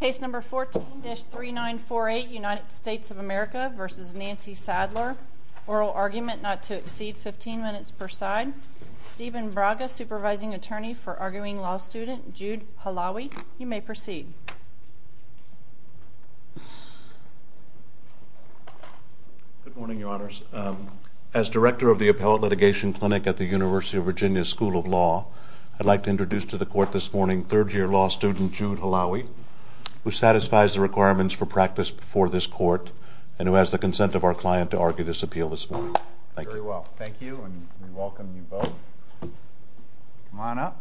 Case number 14-3948, United States of America v. Nancy Sadler. Oral argument not to exceed 15 minutes per side. Stephen Braga, Supervising Attorney for Arguing Law Student. Jude Halawi, you may proceed. Good morning, Your Honors. As Director of the Appellate Litigation Clinic at the University of Virginia School of Law, I'd like to introduce to the Court this morning third-year law student Jude Halawi, who satisfies the requirements for practice before this Court, and who has the consent of our client to argue this appeal this morning. Thank you. Very well. Thank you, and we welcome you both. Come on up.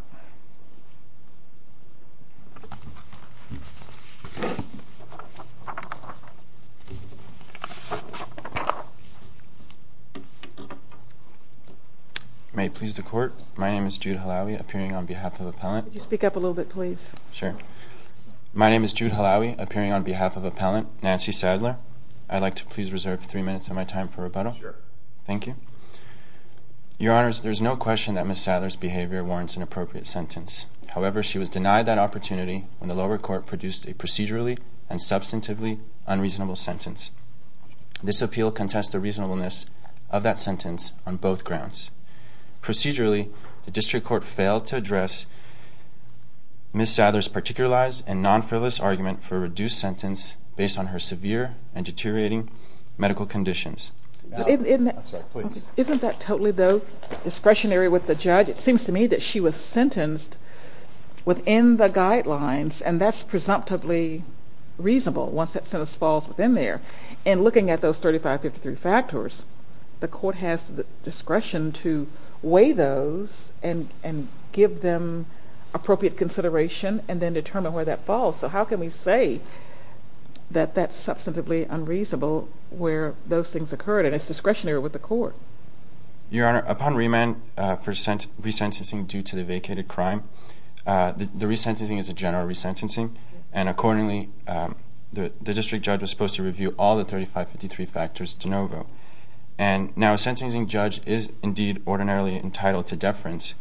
May it please the Court, my name is Jude Halawi, appearing on behalf of Appellant. Could you speak up a little bit, please? Sure. My name is Jude Halawi, appearing on behalf of Appellant Nancy Sadler. I'd like to please reserve three minutes of my time for rebuttal. Sure. Thank you. Your Honors, there's no question that Ms. Sadler's behavior warrants an appropriate sentence. However, she was denied that opportunity when the lower court produced a procedurally and substantively unreasonable sentence. This appeal contests the reasonableness of that sentence on both grounds. Procedurally, the district court failed to address Ms. Sadler's particularized and non-frivolous argument for a reduced sentence based on her severe and deteriorating medical conditions. Isn't that totally, though, discretionary with the judge? It seems to me that she was sentenced within the guidelines, and that's presumptively reasonable once that sentence falls within there. And looking at those 3553 factors, the court has the discretion to weigh those and give them appropriate consideration and then determine where that falls. So how can we say that that's substantively unreasonable where those things occurred? And it's discretionary with the court. Your Honor, upon remand for resentencing due to the vacated crime, the resentencing is a general resentencing, and accordingly the district judge was supposed to review all the 3553 factors de novo. And now a sentencing judge is indeed ordinarily entitled to deference,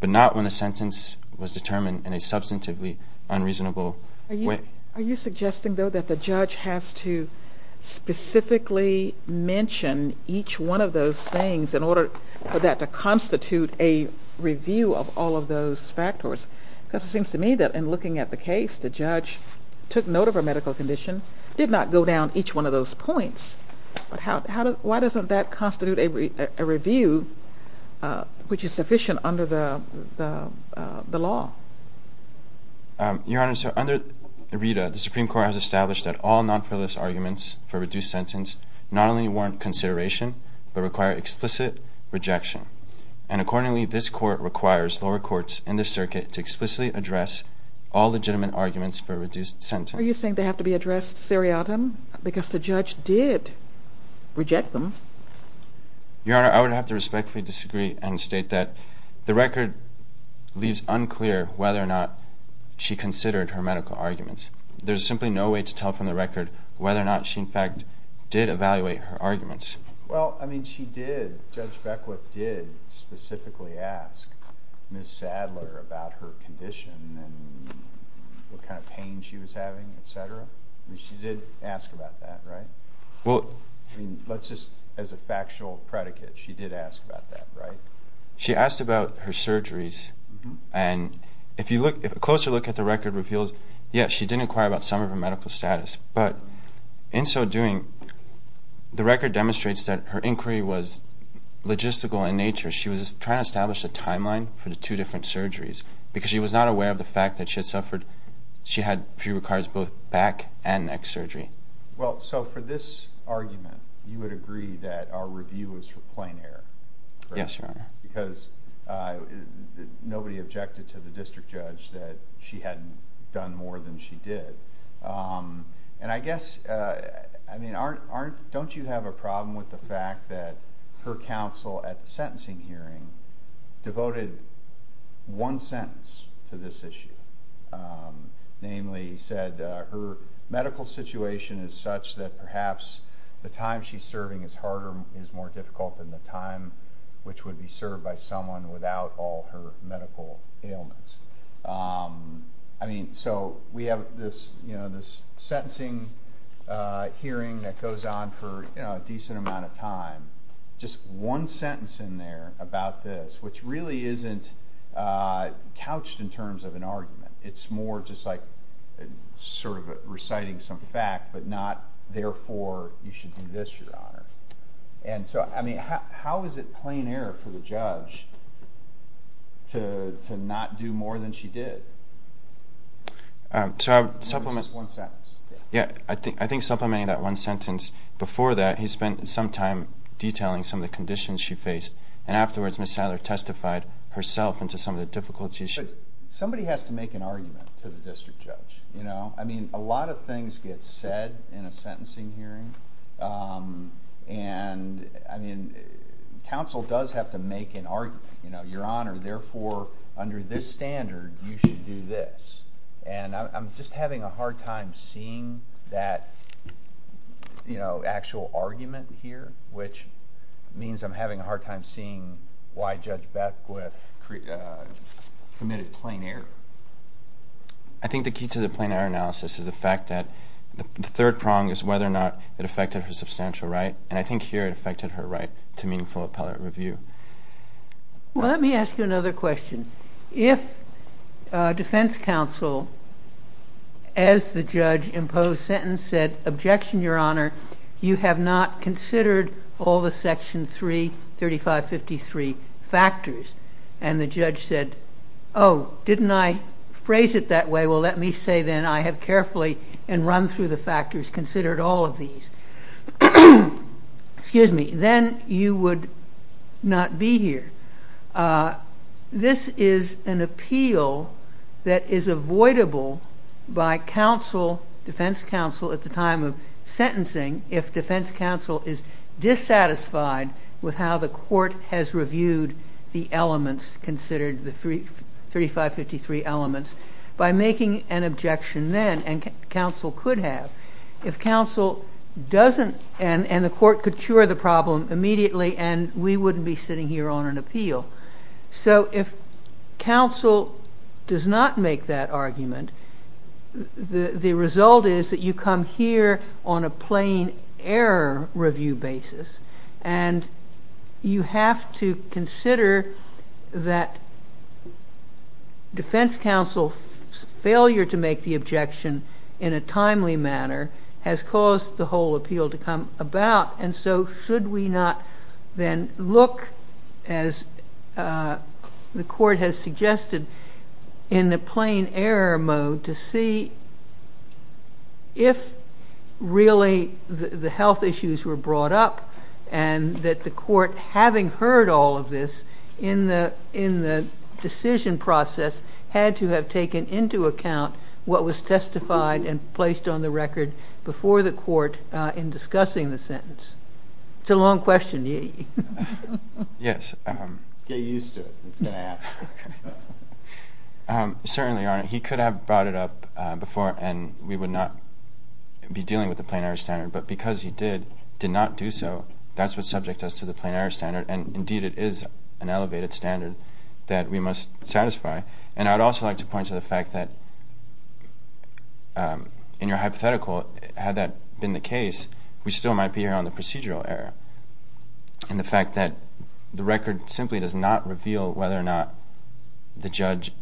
but not when the sentence was determined in a substantively unreasonable way. Are you suggesting, though, that the judge has to specifically mention each one of those things in order for that to constitute a review of all of those factors? Because it seems to me that in looking at the case, the judge took note of her medical condition, did not go down each one of those points. But why doesn't that constitute a review which is sufficient under the law? Your Honor, so under RITA, the Supreme Court has established that all non-freelance arguments for a reduced sentence not only warrant consideration, but require explicit rejection. And accordingly, this court requires lower courts in this circuit to explicitly address all legitimate arguments for a reduced sentence. Do you think they have to be addressed seriatim? Because the judge did reject them. Your Honor, I would have to respectfully disagree and state that the record leaves unclear whether or not she considered her medical arguments. There's simply no way to tell from the record whether or not she, in fact, did evaluate her arguments. Well, I mean, she did. Judge Beckwith did specifically ask Ms. Sadler about her condition and what kind of pain she was having, et cetera. I mean, she did ask about that, right? I mean, let's just, as a factual predicate, she did ask about that, right? She asked about her surgeries. And if you look, a closer look at the record reveals, yes, she did inquire about some of her medical status. But in so doing, the record demonstrates that her inquiry was logistical in nature. She was trying to establish a timeline for the two different surgeries because she was not aware of the fact that she had suffered, she had, she requires both back and neck surgery. Well, so for this argument, you would agree that our review was for plain error, correct? Yes, Your Honor. Because nobody objected to the district judge that she hadn't done more than she did. And I guess, I mean, don't you have a problem with the fact that her counsel at the sentencing hearing devoted one sentence to this issue? Namely, he said her medical situation is such that perhaps the time she's serving is harder, is more difficult than the time which would be served by someone without all her medical ailments. I mean, so we have this, you know, this sentencing hearing that goes on for, you know, a decent amount of time. Just one sentence in there about this, which really isn't couched in terms of an argument. It's more just like sort of reciting some fact, but not, therefore, you should do this, Your Honor. And so, I mean, how is it plain error for the judge to not do more than she did? So I would supplement. Just one sentence. Yeah, I think supplementing that one sentence. Before that, he spent some time detailing some of the conditions she faced. And afterwards, Ms. Sadler testified herself into some of the difficulties she had. Somebody has to make an argument to the district judge, you know? I mean, a lot of things get said in a sentencing hearing. And, I mean, counsel does have to make an argument. You know, Your Honor, therefore, under this standard, you should do this. And I'm just having a hard time seeing that, you know, actual argument here, which means I'm having a hard time seeing why Judge Beckwith committed plain error. I think the key to the plain error analysis is the fact that the third prong is whether or not it affected her substantial right. And I think here it affected her right to meaningful appellate review. Well, let me ask you another question. If defense counsel, as the judge imposed sentence, said, objection, Your Honor, you have not considered all the Section 33553 factors, and the judge said, oh, didn't I phrase it that way? Well, let me say then I have carefully and run through the factors, considered all of these. Excuse me. Then you would not be here. This is an appeal that is avoidable by counsel, defense counsel, at the time of sentencing if defense counsel is dissatisfied with how the court has reviewed the elements considered, the 33553 elements, by making an objection then, and counsel could have. If counsel doesn't, and the court could cure the problem immediately, and we wouldn't be sitting here on an appeal. So if counsel does not make that argument, the result is that you come here on a plain error review basis, and you have to consider that defense counsel's failure to make the objection in a timely manner has caused the whole appeal to come about. And so should we not then look, as the court has suggested, in the plain error mode to see if really the health issues were brought up, and that the court having heard all of this in the decision process had to have taken into account what was testified and placed on the record before the court in discussing the sentence? It's a long question. Yes. Get used to it. It's going to happen. Certainly, Your Honor. He could have brought it up before, and we would not be dealing with the plain error standard. But because he did, did not do so, that's what subjects us to the plain error standard. And, indeed, it is an elevated standard that we must satisfy. And I'd also like to point to the fact that, in your hypothetical, had that been the case, we still might be here on the procedural error. And the fact that the record simply does not reveal whether or not the judge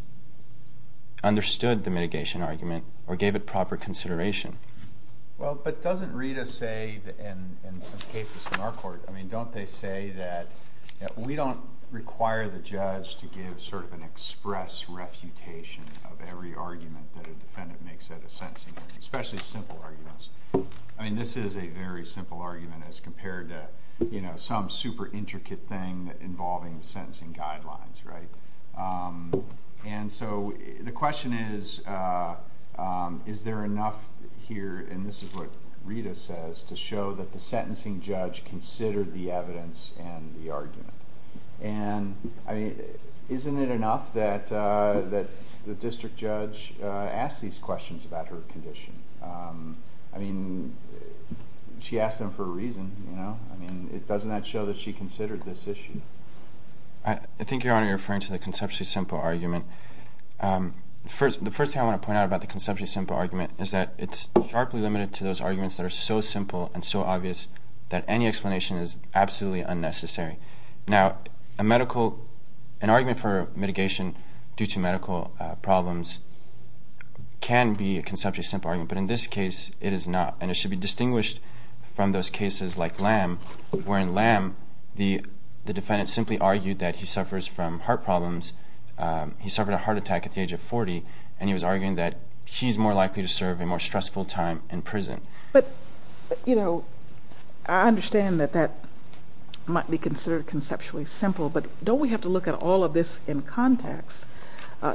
understood the mitigation argument or gave it proper consideration. Well, but doesn't Rita say in some cases in our court, I mean, don't they say that we don't require the judge to give sort of an express refutation of every argument that a defendant makes at a sentencing hearing, especially simple arguments? I mean, this is a very simple argument as compared to some super intricate thing involving sentencing guidelines, right? And so, the question is, is there enough here, and this is what Rita says, to show that the sentencing judge considered the evidence and the argument? And, I mean, isn't it enough that the district judge asks these questions about her condition? I mean, she asked them for a reason, you know? I mean, doesn't that show that she considered this issue? I think, Your Honor, you're referring to the conceptually simple argument. The first thing I want to point out about the conceptually simple argument is that it's sharply limited to those arguments that are so simple and so obvious that any explanation is absolutely unnecessary. Now, an argument for mitigation due to medical problems can be a conceptually simple argument, but in this case, it is not, and it should be distinguished from those cases like Lamb, wherein Lamb, the defendant simply argued that he suffers from heart problems. He suffered a heart attack at the age of 40, and he was arguing that he's more likely to serve a more stressful time in prison. But, you know, I understand that that might be considered conceptually simple, but don't we have to look at all of this in context?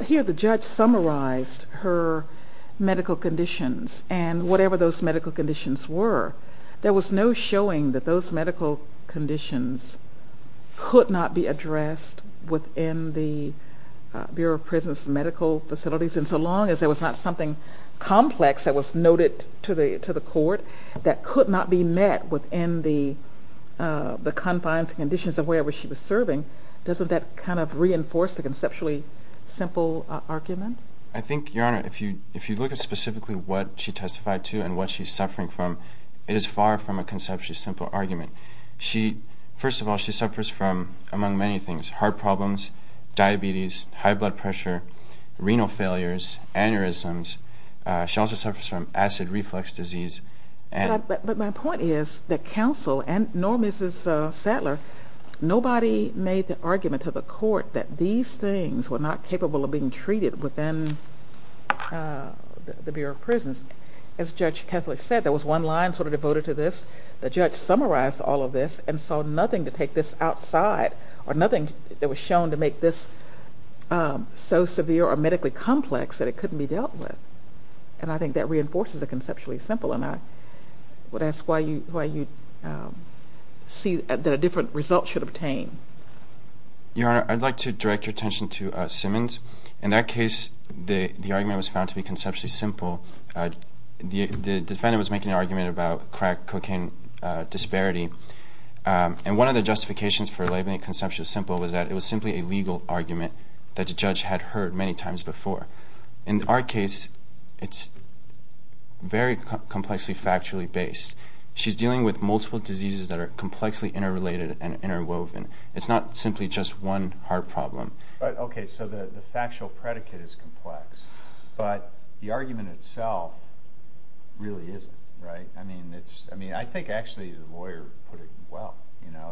Here, the judge summarized her medical conditions and whatever those medical conditions were. There was no showing that those medical conditions could not be addressed within the Bureau of Prisons' medical facilities, and so long as there was not something complex that was noted to the court that could not be met within the confines and conditions of wherever she was serving, doesn't that kind of reinforce the conceptually simple argument? I think, Your Honor, if you look at specifically what she testified to and what she's suffering from, it is far from a conceptually simple argument. First of all, she suffers from, among many things, heart problems, diabetes, high blood pressure, renal failures, aneurysms. She also suffers from acid reflux disease. But my point is that counsel, nor Mrs. Sattler, nobody made the argument to the court that these things were not capable of being treated within the Bureau of Prisons. As Judge Kethledge said, there was one line sort of devoted to this. The judge summarized all of this and saw nothing to take this outside or nothing that was shown to make this so severe or medically complex that it couldn't be dealt with. And I think that reinforces the conceptually simple. And I would ask why you see that a different result should obtain. Your Honor, I'd like to direct your attention to Simmons. In that case, the argument was found to be conceptually simple. The defendant was making an argument about crack cocaine disparity. And one of the justifications for labeling it conceptually simple was that it was simply a legal argument that the judge had heard many times before. In our case, it's very complexly factually based. She's dealing with multiple diseases that are complexly interrelated and interwoven. It's not simply just one heart problem. Okay, so the factual predicate is complex. But the argument itself really isn't, right? I mean, I think actually the lawyer put it well,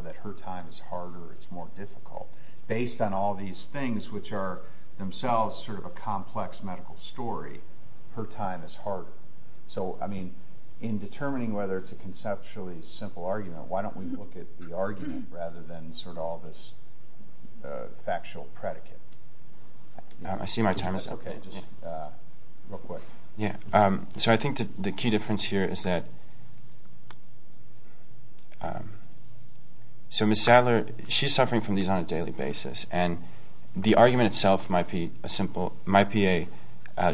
that her time is harder, it's more difficult. Based on all these things, which are themselves sort of a complex medical story, her time is harder. So, I mean, in determining whether it's a conceptually simple argument, why don't we look at the argument rather than sort of all this factual predicate? I see my time is up. So I think the key difference here is that so Ms. Sadler, she's suffering from these on a daily basis. And the argument itself might be a simple, might be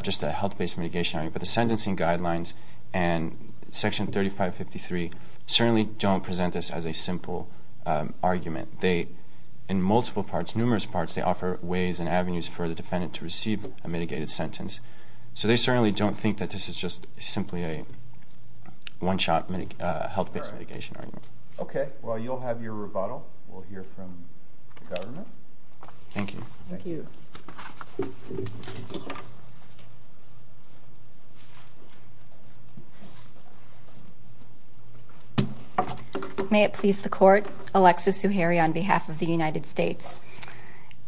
just a health-based mitigation argument. But the sentencing guidelines and Section 3553 certainly don't present this as a simple argument. They, in multiple parts, numerous parts, they offer ways and avenues for the defendant to receive a mitigated sentence. So they certainly don't think that this is just simply a one-shot health-based mitigation argument. Okay, well, you'll have your rebuttal. We'll hear from the government. Thank you. Thank you. May it please the Court. Alexis Zuhairi on behalf of the United States.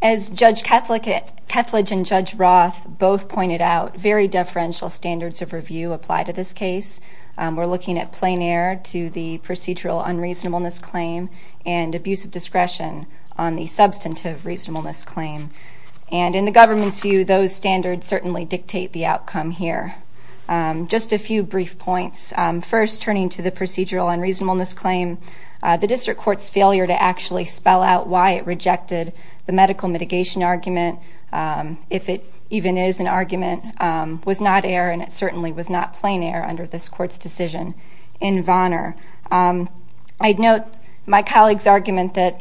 As Judge Kethledge and Judge Roth both pointed out, very deferential standards of review apply to this case. We're looking at plein air to the procedural unreasonableness claim and abuse of discretion on the substantive reasonableness claim. And in the government's view, those standards certainly dictate the outcome here. Just a few brief points. First, turning to the procedural unreasonableness claim, the District Court's failure to actually spell out why it rejected the medical mitigation argument, if it even is an argument, was not air, and it certainly was not plein air under this Court's decision in Vonner. I'd note my colleague's argument that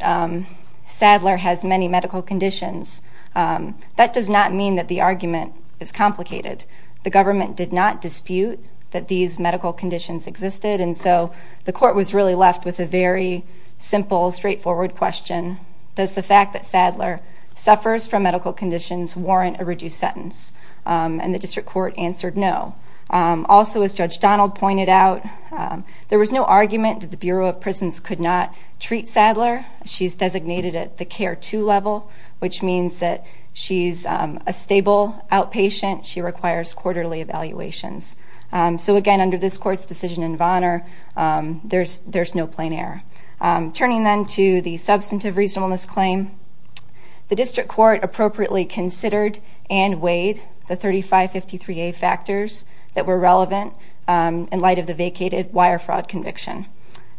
Sadler has many medical conditions. That does not mean that the argument is complicated. The government did not dispute that these medical conditions existed, and so the Court was really left with a very simple, straightforward question. Does the fact that Sadler suffers from medical conditions warrant a reduced sentence? And the District Court answered no. Also, as Judge Donald pointed out, there was no argument that the Bureau of Prisons could not treat Sadler. She's designated at the CARE 2 level, which means that she's a stable outpatient. She requires quarterly evaluations. So again, under this Court's decision in Vonner, there's no plein air. Turning then to the substantive reasonableness claim, the District Court appropriately considered and weighed the 3553A factors that were relevant in light of the vacated wire fraud conviction.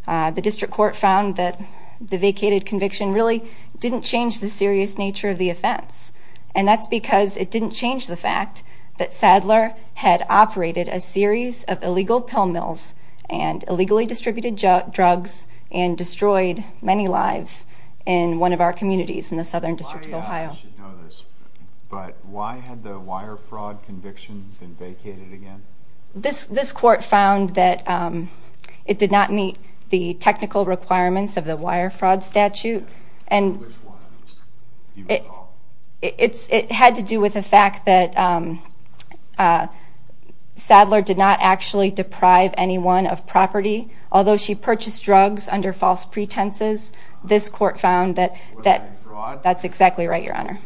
The District Court found that the vacated conviction really didn't change the serious nature of the offense, and that's because it didn't change the fact that Sadler had operated a series of illegal pill mills and illegally distributed drugs and destroyed many lives in one of our communities in the Southern District of Ohio. But why had the wire fraud conviction been vacated again? This Court found that it did not meet the technical requirements of the wire fraud statute. It had to do with the fact that Sadler did not actually deprive anyone of property. Although she purchased drugs under false pretenses, this Court found that that's exactly right, Your Honor.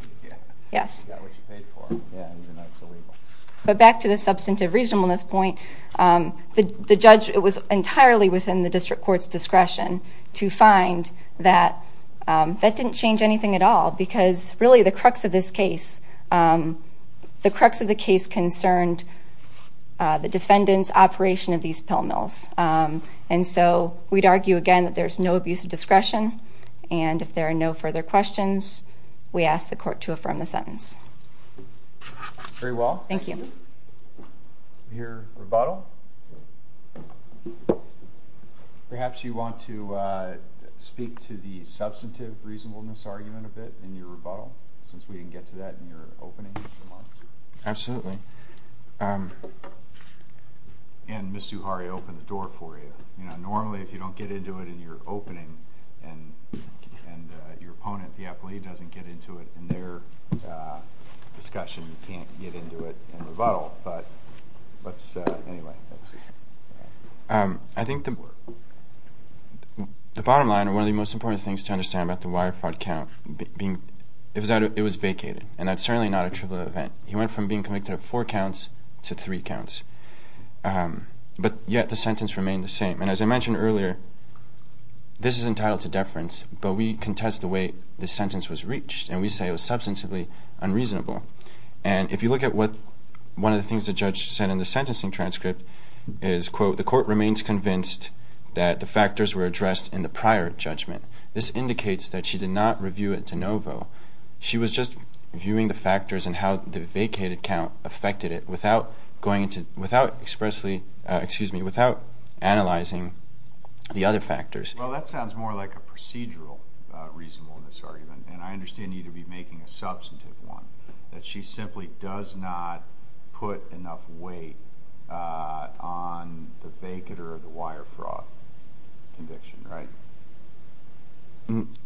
But back to the substantive reasonableness point, the judge was entirely within the District Court's discretion to find that that didn't change anything at all because really the crux of the case concerned the defendant's operation of these pill mills. And so we'd argue again that there's no abuse of discretion, and if there are no further questions, we ask the Court to affirm the sentence. Very well. Thank you. Your rebuttal? Perhaps you want to speak to the substantive reasonableness argument a bit in your rebuttal since we didn't get to that in your opening remarks? Absolutely. And Ms. Zuhari opened the door for you. Normally if you don't get into it in your opening and your opponent, the athlete, doesn't get into it in their discussion, you can't get into it in rebuttal. But let's, anyway. I think the bottom line or one of the most important things to understand about the wire fraud count, it was vacated, and that's certainly not a trivial event. He went from being convicted of four counts to three counts. But yet the sentence remained the same. And as I mentioned earlier, this is entitled to deference, but we contest the way the sentence was reached, and we say it was substantively unreasonable. And if you look at what one of the things the judge said in the sentencing transcript is, quote, the court remains convinced that the factors were addressed in the prior judgment. This indicates that she did not review it de novo. She was just viewing the factors and how the vacated count affected it without going into, without expressly, excuse me, without analyzing the other factors. Well, that sounds more like a procedural reasonableness argument, and I understand you need to be making a substantive one, that she simply does not put enough weight on the vacater of the wire fraud conviction, right?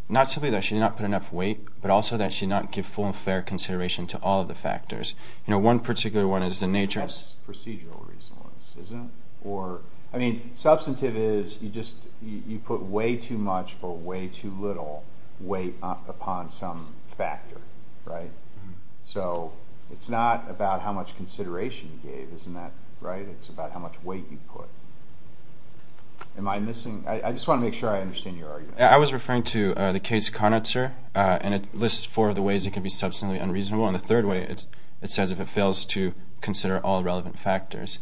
Not simply that she did not put enough weight, but also that she did not give full and fair consideration to all of the factors. You know, one particular one is the nature of— That's procedural reasonableness, isn't it? I mean, substantive is you put way too much or way too little weight upon some factor, right? So it's not about how much consideration you gave, isn't that right? It's about how much weight you put. Am I missing—I just want to make sure I understand your argument. I was referring to the case Conitzer, and it lists four of the ways it can be substantively unreasonable. And the third way, it says if it fails to consider all relevant factors.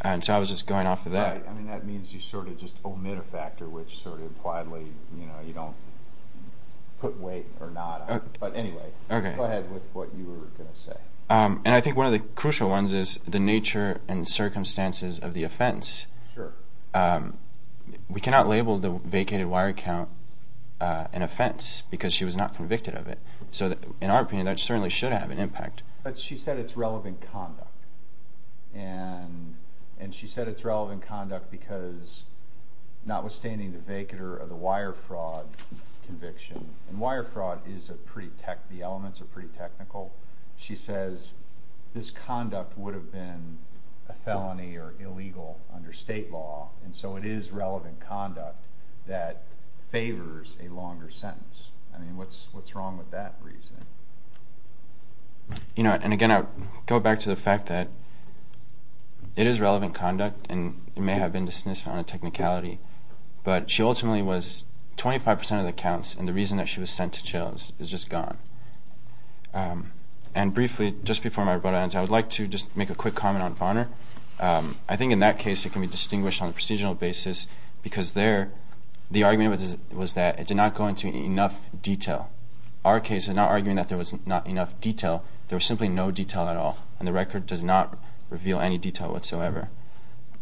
And so I was just going off of that. Right. I mean, that means you sort of just omit a factor which sort of widely, you know, you don't put weight or not on. But anyway, go ahead with what you were going to say. And I think one of the crucial ones is the nature and circumstances of the offense. Sure. We cannot label the vacated wire account an offense because she was not convicted of it. So in our opinion, that certainly should have an impact. But she said it's relevant conduct. And she said it's relevant conduct because notwithstanding the vacater of the wire fraud conviction—and wire fraud is a pretty—the elements are pretty technical. She says this conduct would have been a felony or illegal under state law. And so it is relevant conduct that favors a longer sentence. I mean, what's wrong with that reasoning? You know, and again, I would go back to the fact that it is relevant conduct and it may have been dismissed on a technicality. But she ultimately was—25 percent of the counts and the reason that she was sent to jail is just gone. And briefly, just before my rebuttal ends, I would like to just make a quick comment on Varner. I think in that case, it can be distinguished on a procedural basis because there, the argument was that it did not go into enough detail. Our case is not arguing that there was not enough detail. There was simply no detail at all. And the record does not reveal any detail whatsoever.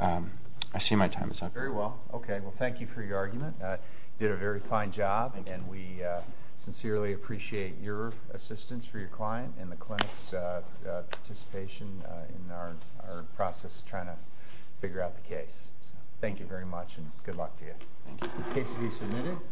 I see my time is up. Very well. Okay. Well, thank you for your argument. You did a very fine job. Thank you. And we sincerely appreciate your assistance for your client and the clinic's participation in our process of trying to figure out the case. Thank you very much and good luck to you. Thank you. The case will be submitted.